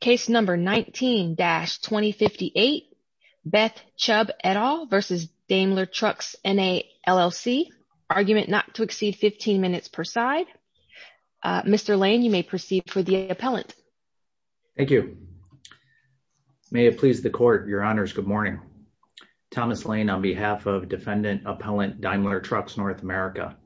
Case number 19-2058, Beth Chubb et al. v. Daimler Trucks NA LLC, argument not to exceed 15 minutes per side. Mr. Lane, you may proceed for the appellant. Thank you. May it please the court, your honors, good morning. Thomas Lane on behalf of defendant appellant Daimler Trucks North America.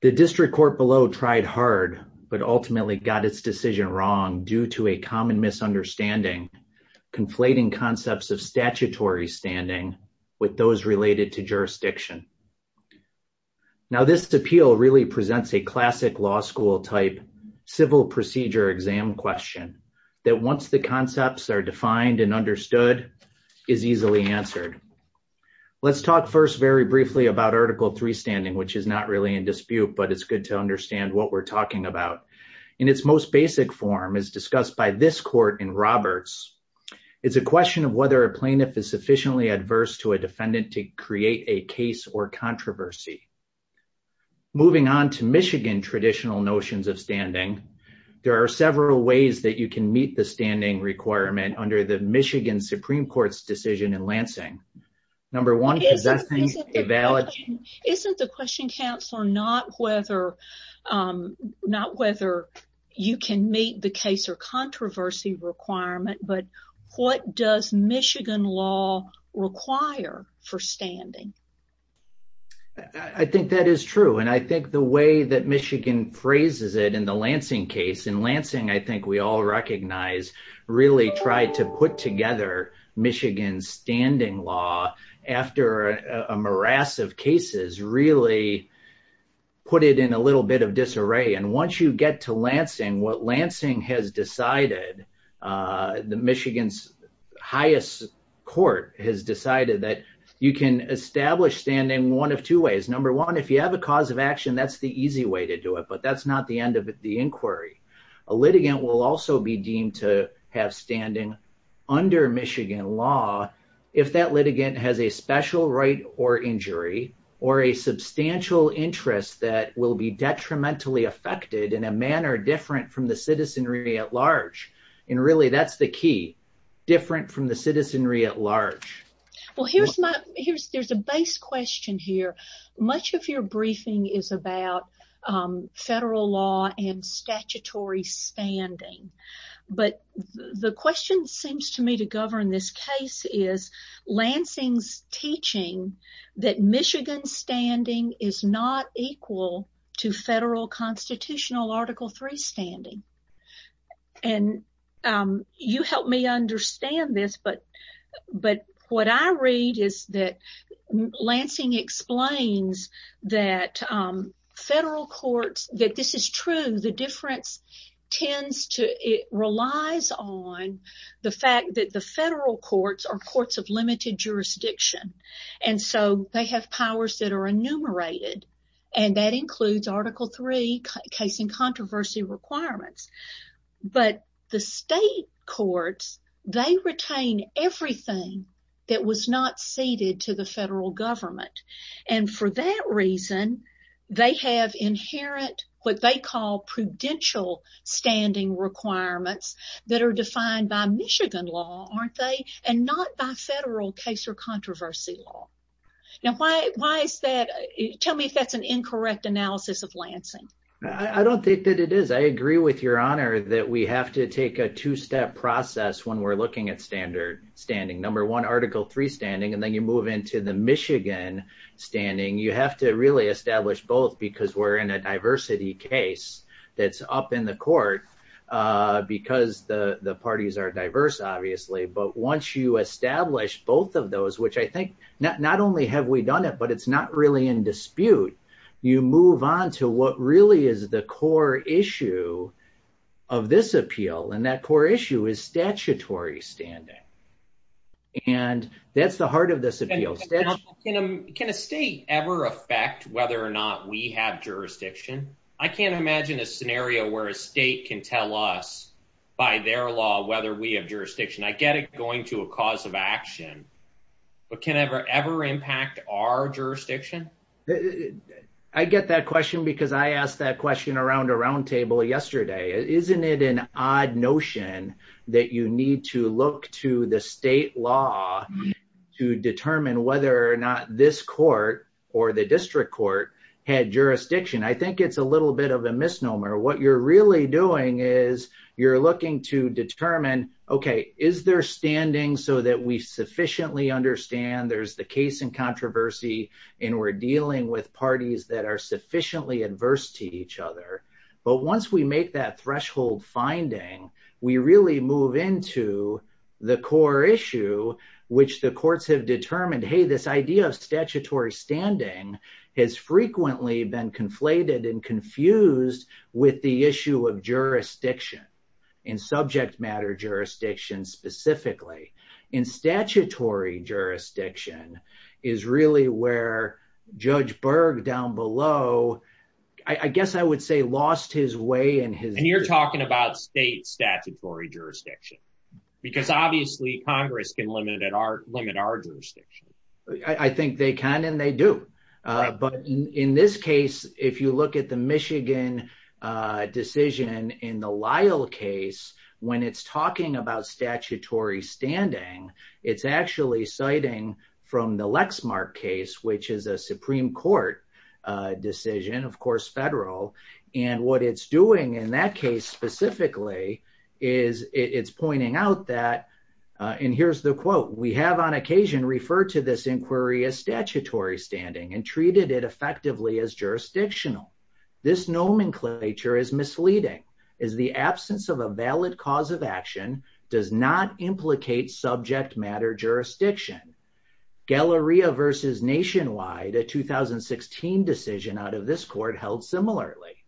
The district court below tried hard but ultimately got its decision wrong due to a common misunderstanding conflating concepts of statutory standing with those related to jurisdiction. Now this appeal really presents a classic law school type civil procedure exam question that once the concepts are defined and understood is easily answered. Let's talk first very briefly about article 3 standing which is not really in dispute but it's good to understand what we're talking about. In its most basic form is discussed by this court in Roberts. It's a question of whether a plaintiff is sufficiently adverse to a defendant to create a case or controversy. Moving on to Michigan traditional notions of standing, there are several ways that you can meet the standing requirement under the Michigan Supreme Court's decision in Lansing. Number one, is that thing valid? Isn't the question counselor not whether you can meet the case or controversy requirement but what does Michigan law require for standing? I think that is true and I think the way that Michigan phrases it in the Michigan standing law after a morass of cases really put it in a little bit of disarray and once you get to Lansing, what Lansing has decided, the Michigan's highest court has decided that you can establish standing one of two ways. Number one, if you have a cause of action that's the easy way to do it but that's not the end of the inquiry. A litigant will also be deemed to have standing under Michigan law if that litigant has a special right or injury or a substantial interest that will be detrimentally affected in a manner different from the citizenry at large and really that's the key different from the citizenry at large. Well here's my here's there's a base question here. Much of your briefing is about federal law and statutory standing but the question seems to me to govern this case is Lansing's teaching that Michigan's standing is not equal to federal constitutional article 3 standing and you help me understand this but but what I read is that Lansing explains that federal courts that this is true the difference tends to it relies on the fact that the federal courts are courts of limited jurisdiction and so they have powers that are enumerated and that includes article 3 case and controversy requirements but the state courts they retain everything that was not ceded to the federal government and for that reason they have inherent what they call prudential standing requirements that are defined by Michigan law aren't they and not by federal case or controversy law. Now why why is that tell me if that's an incorrect analysis of Lansing. I don't think that it is I agree with your honor that we have to take a two-step process when we're looking at standard standing number one article 3 standing and then you move into the Michigan standing you have to really establish both because we're in a diversity case that's up in the court because the the parties are diverse obviously but once you establish both of those which I think not not only have we done it but it's not really in dispute you move on to what really is the core issue of this appeal and that core issue is statutory standing and that's the heart of this appeal. Can a state ever affect whether or not we have jurisdiction? I can't imagine a scenario where a state can tell us by their law whether we have jurisdiction. I get it going to a cause of action but can ever ever impact our jurisdiction? I get that question because I asked that question around a round table yesterday isn't it an odd notion that you need to look to the state law to determine whether or not this court or the district court had jurisdiction. I think it's a little bit of a misnomer what you're really doing is you're looking to determine okay is there standing so that we sufficiently understand there's the case in controversy and we're dealing with parties that are sufficiently adverse to each other but once we make that threshold finding we really move into the core issue which the courts have determined hey this idea of statutory standing has frequently been conflated and confused with the issue of jurisdiction in subject matter jurisdiction specifically in statutory jurisdiction is really where Judge Berg down below I guess I would say lost his way. And you're talking about state statutory jurisdiction because obviously Congress can limit our jurisdiction. I think they can and they do but in this case if you look at the Michigan decision in the Lyle case when it's talking about statutory standing it's actually citing from the Lexmark case which is a Supreme Court decision of course federal and what it's doing in that case specifically is it's pointing out that and here's the quote we have on occasion referred to this inquiry as statutory standing and treated it effectively as jurisdictional. This nomenclature is misleading is the absence of a valid cause of action does not implicate subject matter jurisdiction. Galleria versus Nationwide a 2016 decision out of this court held similarly.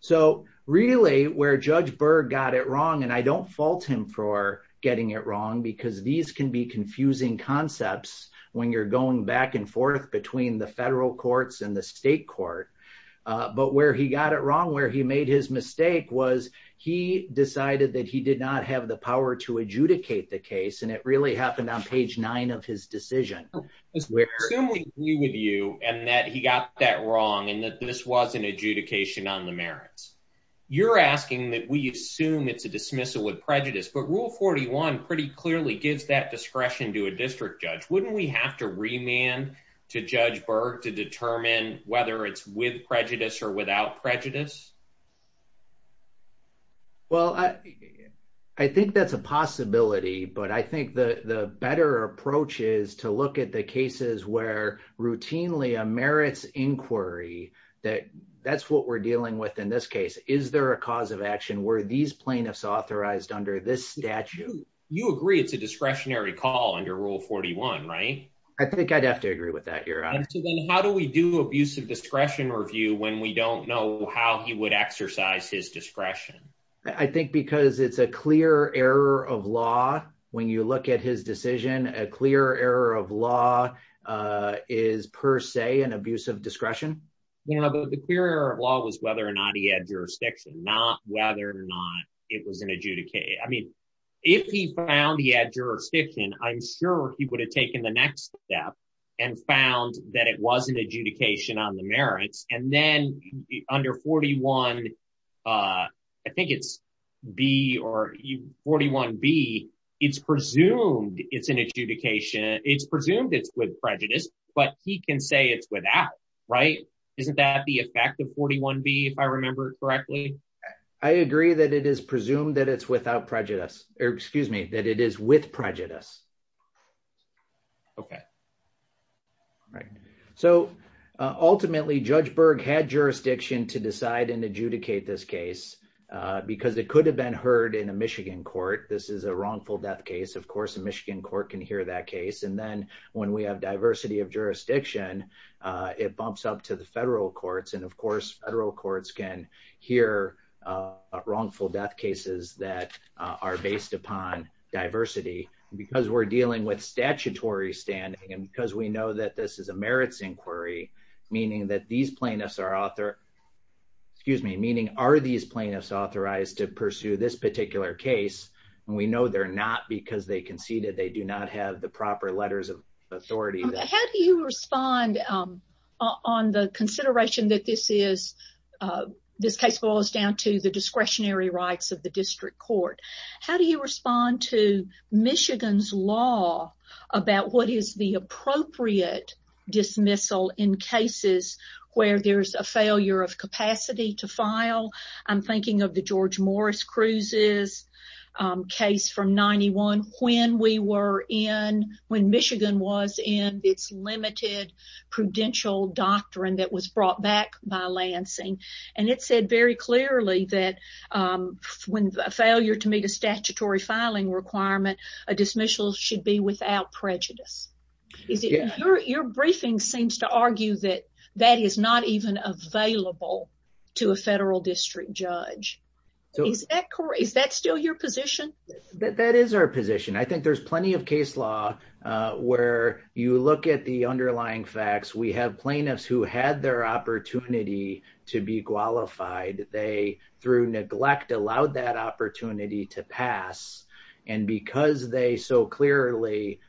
So really where Judge Berg got it wrong and I don't fault him for getting it wrong because these can be confusing concepts when you're going back and forth between the federal courts and the state court but where he got it wrong where he made his mistake was he decided that he did not have the power to adjudicate the case and it really happened on page nine of his decision. Assume we agree with you and that he got that wrong and that this wasn't adjudication on the merits. You're asking that we assume it's a dismissal with prejudice but rule 41 pretty clearly gives that discretion to a district judge. Wouldn't we have to remand to Judge Berg to determine whether it's with prejudice or without prejudice? Well I think that's a possibility but I think the better approach is to look at the cases where routinely a merits inquiry that that's what we're dealing with in this case. Is there a cause of action were these plaintiffs authorized under this statute? You agree it's a discretionary call under rule 41 right? I think I'd have to agree with that answer. Then how do we do abusive discretion review when we don't know how he would exercise his discretion? I think because it's a clear error of law when you look at his decision a clear error of law is per se an abuse of discretion. The clear error of law was whether or not he had jurisdiction not whether or not it was an adjudication. I mean if he found he had jurisdiction I'm sure he would have taken the next step and found that it was an adjudication on the merits and then under 41 I think it's B or 41B it's presumed it's an adjudication it's presumed it's with prejudice but he can say it's without right? Isn't that the effect of 41B if I remember correctly? I agree that it is presumed that it's without prejudice or excuse me that it is with prejudice. Okay right so ultimately Judge Berg had jurisdiction to decide and adjudicate this case because it could have been heard in a Michigan court. This is a wrongful death case of course a Michigan court can hear that case and then when we have diversity of jurisdiction it bumps up to the federal courts and of course federal courts can hear wrongful death cases that are based upon diversity because we're dealing with statutory standing and because we know that this is a merits inquiry meaning that these plaintiffs are author excuse me meaning are these plaintiffs authorized to pursue this particular case and we know they're not because they conceded they do not have the proper letters of authority. How do you respond on the consideration that this is this case boils down to the discretionary rights of the district court? How do you respond to Michigan's law about what is the appropriate dismissal in cases where there's a failure of capacity to file? I'm thinking of the George Morris Cruz's case from 91 when we were in when Michigan was in its limited prudential doctrine that was brought back by Lansing and it said very clearly that when a failure to meet a statutory filing requirement a dismissal should be without prejudice. Your briefing seems to argue that that is not even available to a federal district judge. Is that still your position? That is our position. I think there's plenty of case law where you look at the underlying facts we have plaintiffs who had their opportunity to be qualified they through neglect allowed that opportunity to pass and because they so clearly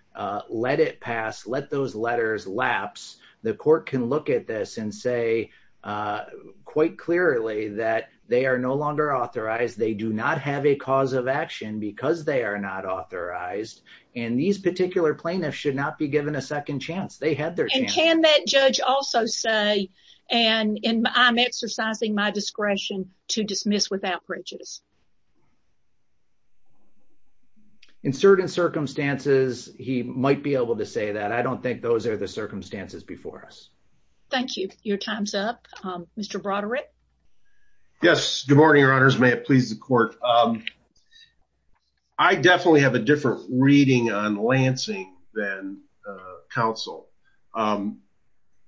let it pass let those letters lapse the court can look at this and say quite clearly that they are no longer authorized they do not have a cause of action because they are not authorized and these particular plaintiffs should not be given a second chance. They had their chance. And can that judge also say and I'm exercising my discretion to dismiss without prejudice? In certain circumstances he might be able to say that. I don't think those are the circumstances before us. Thank you. Your time's up. Mr. Broderick. Yes, good morning your honors. May it please the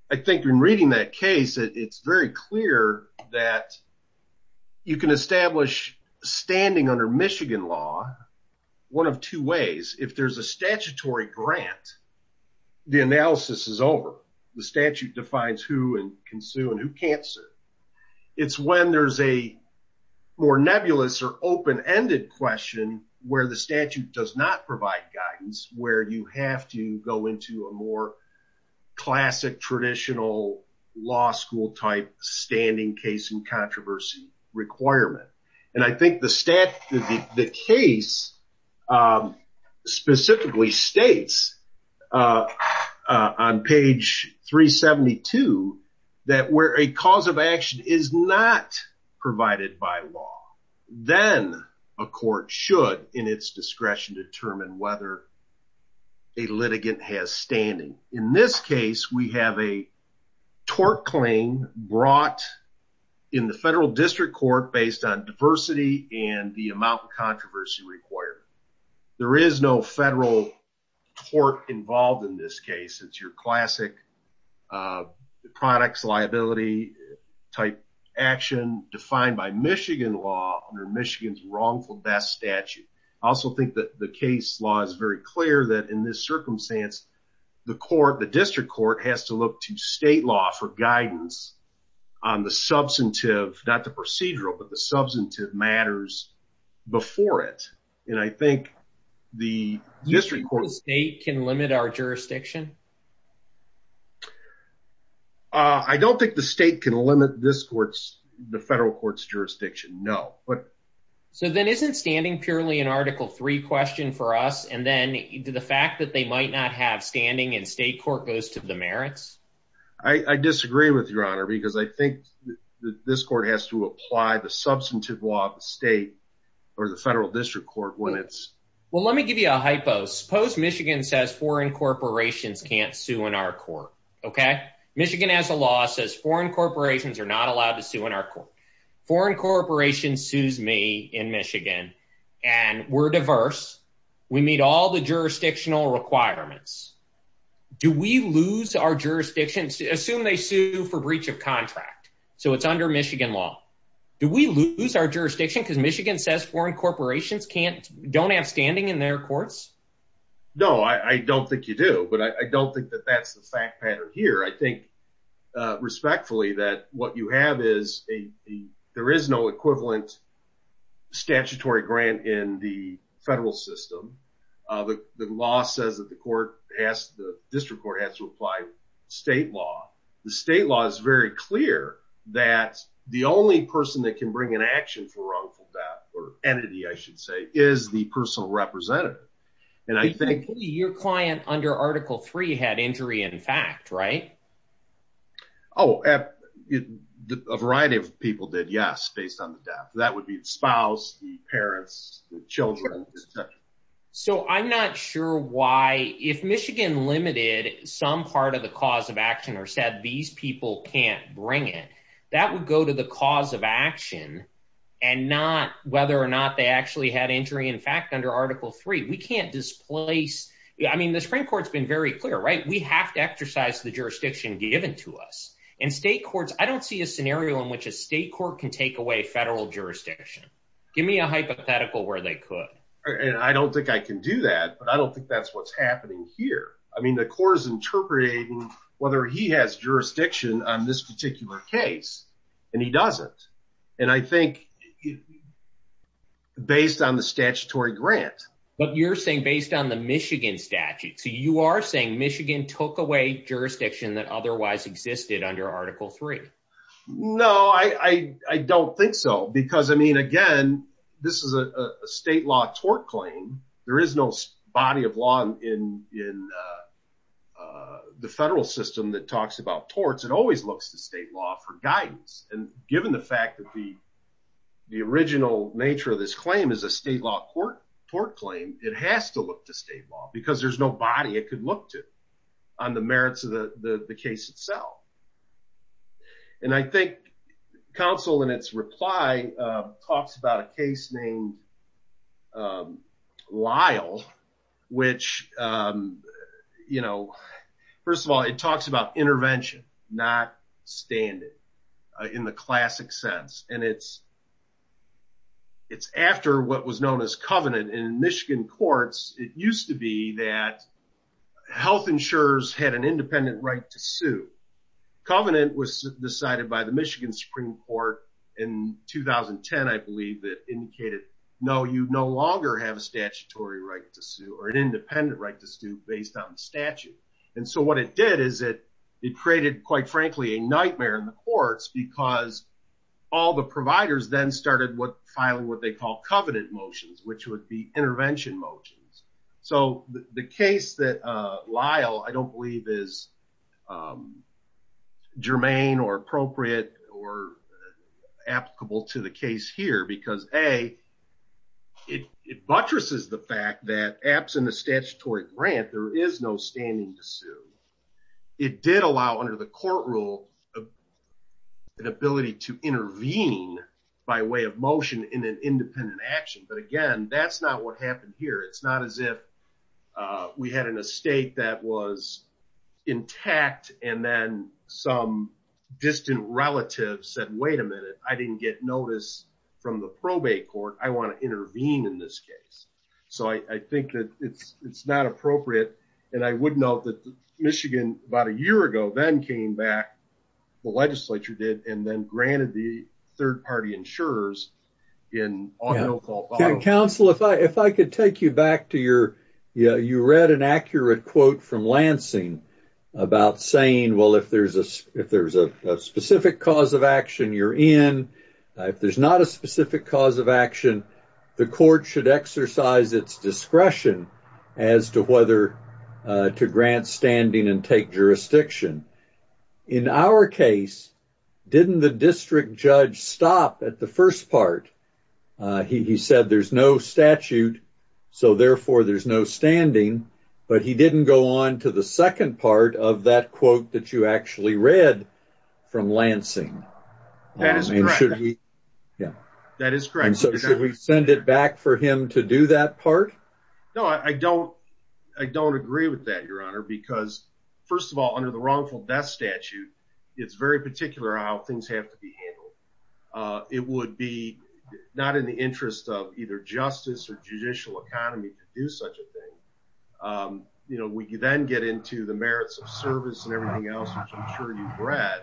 I think in reading that case it's very clear that you can establish standing under Michigan law one of two ways. If there's a statutory grant the analysis is over. The statute defines who and can sue and who can't sue. It's when there's a more nebulous or open-ended question where the classic traditional law school type standing case and controversy requirement and I think the stat the case specifically states on page 372 that where a cause of action is not provided by law then a court should in its discretion determine whether a litigant has standing. In this case we have a tort claim brought in the federal district court based on diversity and the amount of controversy required. There is no federal tort involved in this case. It's your classic uh products liability type action defined by Michigan law under Michigan's wrongful best statute. I also think that the case law is very clear that in this circumstance the court the district court has to look to state law for guidance on the substantive not the procedural but the substantive matters before it and I think the district court state can limit our jurisdiction. Uh I don't think the state can limit this court's the federal court's jurisdiction no but so then isn't standing purely an article three question for us and then the fact that they might not have standing and state court goes to the merits? I disagree with your honor because I think this court has to apply the substantive law of the state or the federal district court when it's well let me give you a hypo. Suppose Michigan says foreign corporations can't sue in our court okay? Michigan has a law says foreign corporations are not allowed to sue in our court. Foreign corporations sues me in Michigan and we're diverse. We meet all the jurisdictional requirements. Do we lose our jurisdiction? Assume they sue for breach of contract so it's under Michigan law. Do we lose our jurisdiction because Michigan says foreign corporations can't don't have standing in their courts? No I don't think you do but I don't think that that's the fact pattern here. I think respectfully that what you have is a there is no equivalent statutory grant in the federal system. The law says that the court has the district court has to apply state law. The state law is very clear that the only person that can bring an action for personal representative and I think your client under article three had injury in fact right? Oh a variety of people did yes based on the death. That would be the spouse, the parents, the children. So I'm not sure why if Michigan limited some part of the cause of action or said these people can't bring it that would go to the cause of action and not whether or not they actually had injury in fact under article three. We can't displace I mean the Supreme Court's been very clear right? We have to exercise the jurisdiction given to us and state courts I don't see a scenario in which a state court can take away federal jurisdiction. Give me a hypothetical where they could. And I don't think I can do that but I don't think that's what's happening here. I mean the court is interpreting whether he has jurisdiction on this particular case and he doesn't and I think based on the statutory grant. But you're saying based on the Michigan statute so you are saying Michigan took away jurisdiction that otherwise existed under article three. No I don't think so because I mean again this is a state law tort claim. There is no body of law in the federal system that talks about torts. It always looks to state law for guidance and given the fact that the original nature of this claim is a state law court tort claim it has to look to state law because there's no body it could look to on the merits of the case itself. And I think counsel in its reply talks about a case named Lyle which you know first of all it talks about intervention not standing in the classic sense and it's it's after what was known as covenant in Michigan courts it used to be that health insurers had an independent right to sue. Covenant was decided by the Michigan Supreme Court in 2010 I believe that indicated no you no longer have a statutory right to sue or an independent right to sue based on statute and so what it did is it it created quite frankly a nightmare in the courts because all the providers then started what filing what they call covenant motions which would be intervention motions. So the case that Lyle I don't believe is germane or appropriate or applicable to the case here because a it buttresses the fact that absent a statutory grant there is no standing to sue. It did allow under the court rule an ability to intervene by way of motion in an independent action but again that's not what uh we had in a state that was intact and then some distant relatives said wait a minute I didn't get notice from the probate court I want to intervene in this case. So I think that it's it's not appropriate and I would note that Michigan about a year ago then came back the legislature did and then granted the third party insurers in audio call. Counsel if I if I could take you back to your yeah you read an accurate quote from Lansing about saying well if there's a if there's a specific cause of action you're in if there's not a specific cause of action the court should exercise its discretion as to whether to grant standing and take jurisdiction. In our case didn't the district judge stop at the first part he he said there's no statute so therefore there's no standing but he didn't go on to the second part of that quote that you actually read from Lansing. That is correct. Yeah that is correct. So should we send it back for him to do that part? No I don't I don't agree with that your honor because first of all under the wrongful death statute it's very particular how things have to be handled. It would be not in the interest of either justice or judicial economy to do such a thing. You know we then get into the merits of service and everything else which I'm sure you've read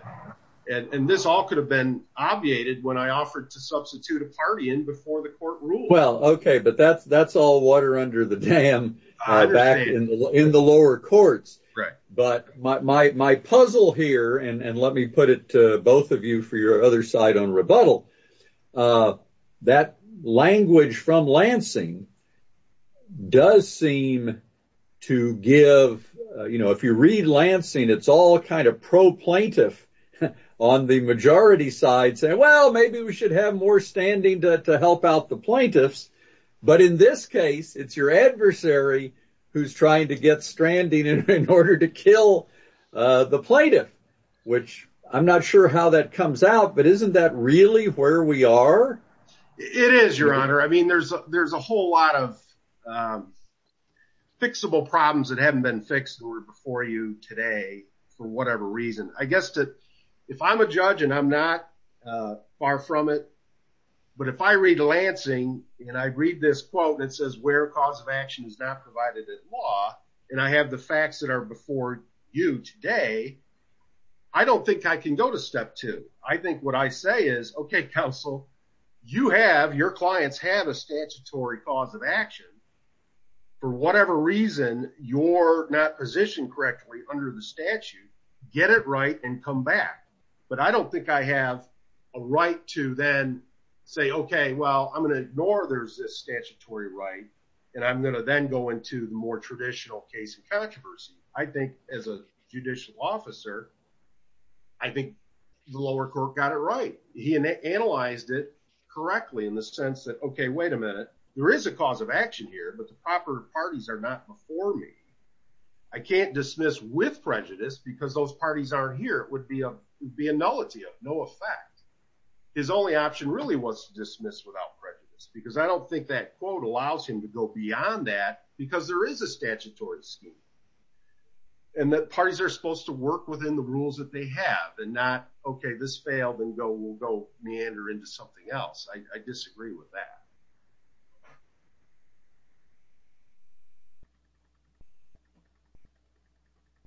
and and this all could have been obviated when I offered to substitute a party in before the court ruled. Well okay but that's that's all water under the dam back in the in the lower courts but my puzzle here and let me put it to both of you for your other side on rebuttal that language from Lansing does seem to give you know if you read Lansing it's all kind of pro plaintiff on the majority side saying well maybe we should have more standing to help out the order to kill the plaintiff which I'm not sure how that comes out but isn't that really where we are? It is your honor I mean there's there's a whole lot of fixable problems that haven't been fixed or before you today for whatever reason. I guess that if I'm a judge and I'm not far from it but if I read Lansing and I read this quote that says where cause of action is not provided in law and I have the facts that are before you today I don't think I can go to step two. I think what I say is okay counsel you have your clients have a statutory cause of action for whatever reason you're not positioned correctly under the statute get it right and come back but I don't think I have a right to then say okay well I'm going to ignore there's this statutory right and I'm going to then go into the more traditional case of controversy. I think as a judicial officer I think the lower court got it right. He analyzed it correctly in the sense that okay wait a minute there is a cause of action here but the proper parties are not before me. I can't dismiss with prejudice because those parties aren't here it would be a be a nullity of no effect. His only option really was to dismiss without prejudice because I don't think that quote allows him to go beyond that because there is a statutory scheme and that parties are supposed to work within the rules that they have and not okay this failed and go we'll go meander into something else. I disagree with that.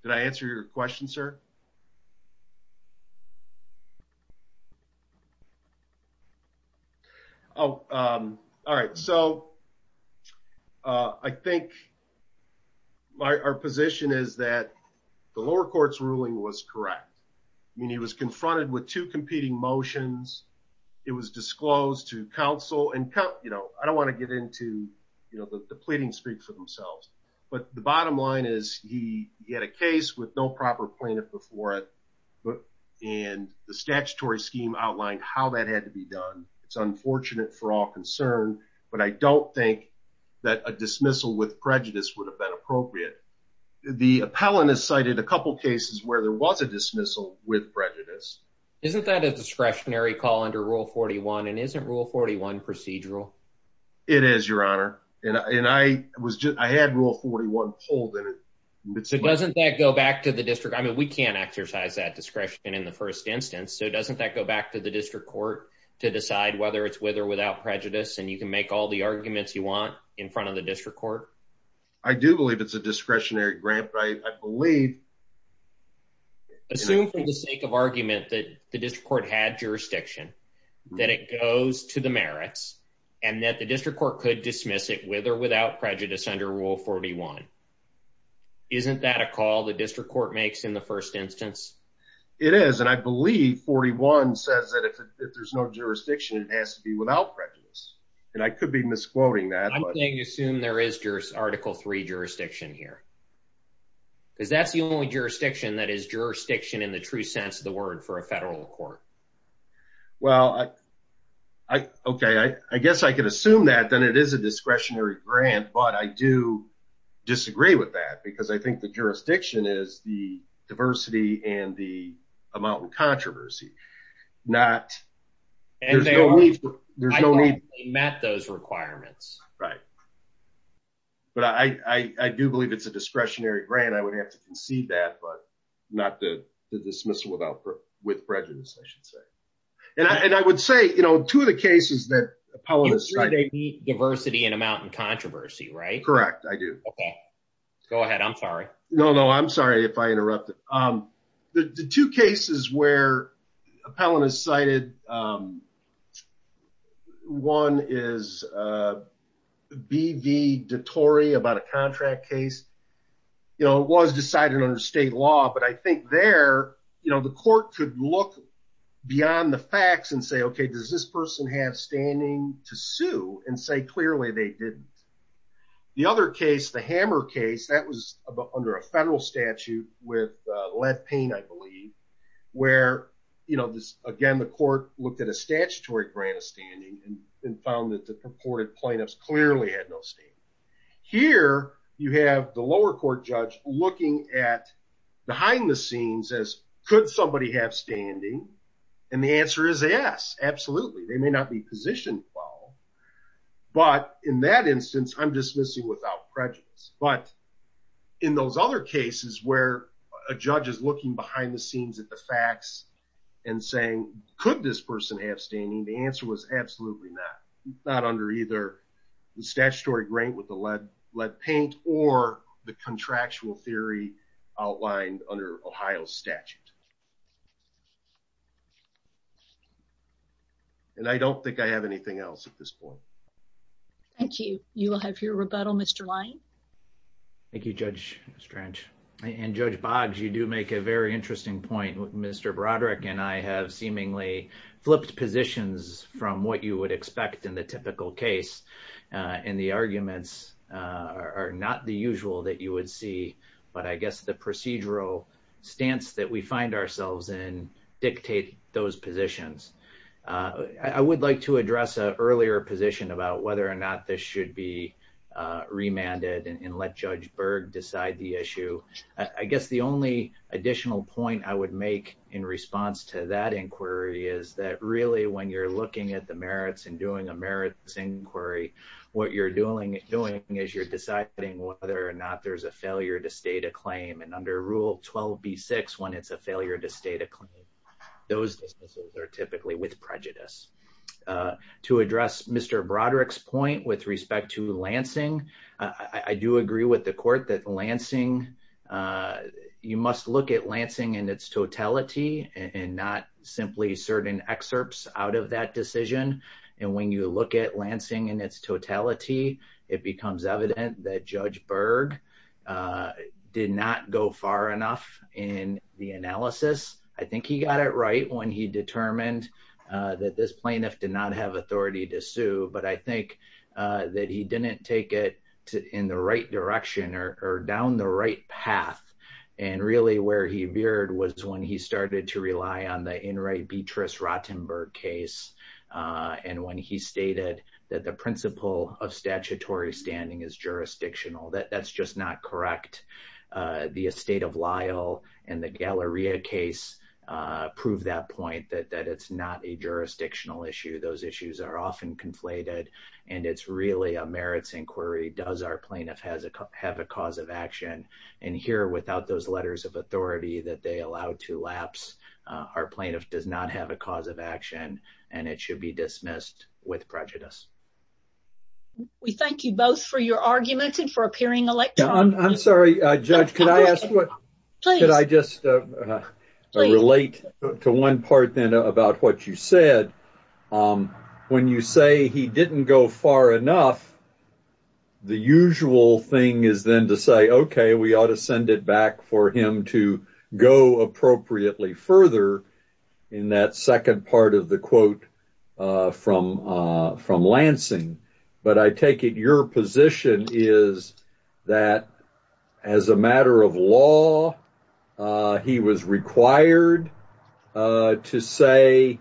Did I answer your question sir? Oh all right so I think my our position is that the lower court's ruling was correct. I mean he was confronted with two competing motions. It was disclosed to counsel and count you know I don't want to get into you know the pleading speech for themselves but the bottom line is he he had a case with no proper plaintiff before it but and the statutory scheme outlined how that had to be done. It's unfortunate for all concerned but I don't think that a dismissal with prejudice would have been appropriate. The appellant has cited a couple cases where there was a dismissal with prejudice. Isn't that a discretionary call under rule 41 and isn't rule 41 procedural? It is your honor and I was just I had rule 41 pulled in it. So doesn't that go back to the district? I mean we can't exercise that discretion in the first instance so doesn't that go back to the district court to decide whether it's with or without prejudice and you can make all the arguments you want in front of the district court? I do believe it's a discretionary grant but I believe assume for the sake of argument that the district court had jurisdiction that it goes to the merits and that the district court could dismiss it with or without prejudice under rule 41. Isn't that a call the district court makes in the first instance? It is and I believe 41 says that if there's no jurisdiction it has to be without prejudice and I could be misquoting that. I'm saying assume there is just article 3 jurisdiction here because that's the only jurisdiction that is jurisdiction in the true sense of the word for federal court. Well I okay I guess I can assume that then it is a discretionary grant but I do disagree with that because I think the jurisdiction is the diversity and the amount of controversy. Not and there's no need. I don't think they met those requirements. Right but I do believe it's a discretionary grant I would have to concede that but not the dismissal without with prejudice I should say and I would say you know two of the cases that appellant diversity and amount and controversy right? Correct I do. Okay go ahead I'm sorry. No no I'm sorry if I interrupted. The two cases where appellant is cited one is B.V. DeTore about a contract case you know it was decided under state law but I think there you know the court could look beyond the facts and say okay does this person have standing to sue and say clearly they didn't. The other case the hammer case that was under a federal statute with looked at a statutory grant of standing and found that the purported plaintiffs clearly had no standing. Here you have the lower court judge looking at behind the scenes as could somebody have standing and the answer is yes absolutely they may not be positioned well but in that instance I'm dismissing without prejudice but in those other cases where a judge is looking behind the scenes at the facts and saying could this person have standing the answer was absolutely not not under either the statutory grant with the lead paint or the contractual theory outlined under Ohio statute. And I don't think I have anything else at this point. Thank you. You will have your Mr. Broderick and I have seemingly flipped positions from what you would expect in the typical case and the arguments are not the usual that you would see but I guess the procedural stance that we find ourselves in dictate those positions. I would like to address an earlier position about whether or not this should be remanded and let Judge Berg decide the issue. I guess the only additional point I would make in response to that inquiry is that really when you're looking at the merits and doing a merits inquiry what you're doing is you're deciding whether or not there's a failure to state a claim and under rule 12b6 when it's a failure to state a claim those businesses are typically with prejudice. To address Mr. Broderick's point with Lansing I do agree with the court that Lansing you must look at Lansing in its totality and not simply certain excerpts out of that decision and when you look at Lansing in its totality it becomes evident that Judge Berg did not go far enough in the analysis. I think he got it right when he determined that this plaintiff did not have authority to sue but I think that he didn't take it in the right direction or down the right path and really where he veered was when he started to rely on the Inright Beatrice Rottenberg case and when he stated that the principle of statutory standing is jurisdictional that that's just not correct. The estate of Lyle and the point that it's not a jurisdictional issue those issues are often conflated and it's really a merits inquiry does our plaintiff have a cause of action and here without those letters of authority that they allow to lapse our plaintiff does not have a cause of action and it should be dismissed with prejudice. We thank you both for your arguments and for appearing electronically. I'm sorry about what you said when you say he didn't go far enough the usual thing is then to say okay we ought to send it back for him to go appropriately further in that second part of the quote from Lansing but I take it your position is that as a matter of law he was required to say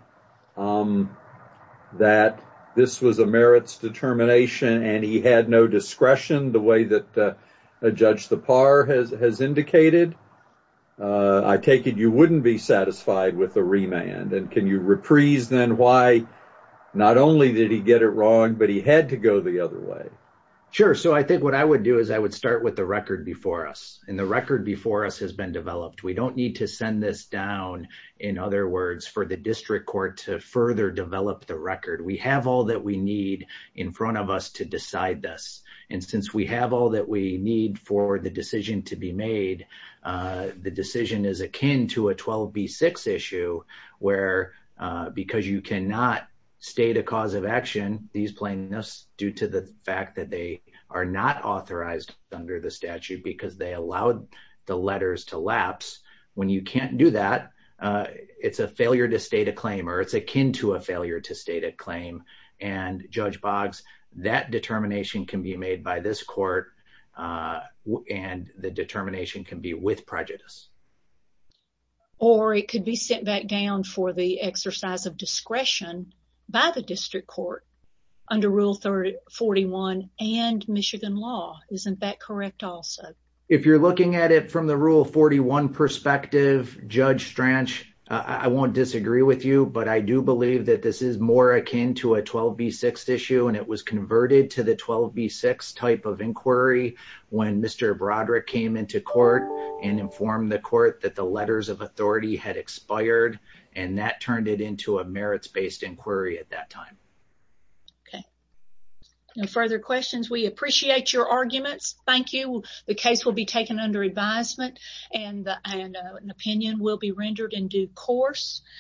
that this was a merits determination and he had no discretion the way that a judge the par has indicated. I take it you wouldn't be satisfied with the remand and can you reprise then why not only did he get it wrong but he had to go the other way. Sure so I think what I would do is I would start with the record before us and the record before us has been in other words for the district court to further develop the record we have all that we need in front of us to decide this and since we have all that we need for the decision to be made the decision is akin to a 12b6 issue where because you cannot state a cause of action these plaintiffs due to the fact that they are not authorized under the statute because they allowed the letters to lapse when you can't do that it's a failure to state a claim or it's akin to a failure to state a claim and Judge Boggs that determination can be made by this court and the determination can be with prejudice. Or it could be sent back down for the exercise of discretion by the district court under rule 341 and Michigan law isn't that correct also? If you're looking at it from the rule 41 perspective Judge Stranch I won't disagree with you but I do believe that this is more akin to a 12b6 issue and it was converted to the 12b6 type of inquiry when Mr. Broderick came into court and informed the court that the letters of authority had expired and that turned it into a merits-based inquiry at that time. Okay no further questions we appreciate your arguments thank you the case will be taken under advisement and an opinion will be rendered in due course.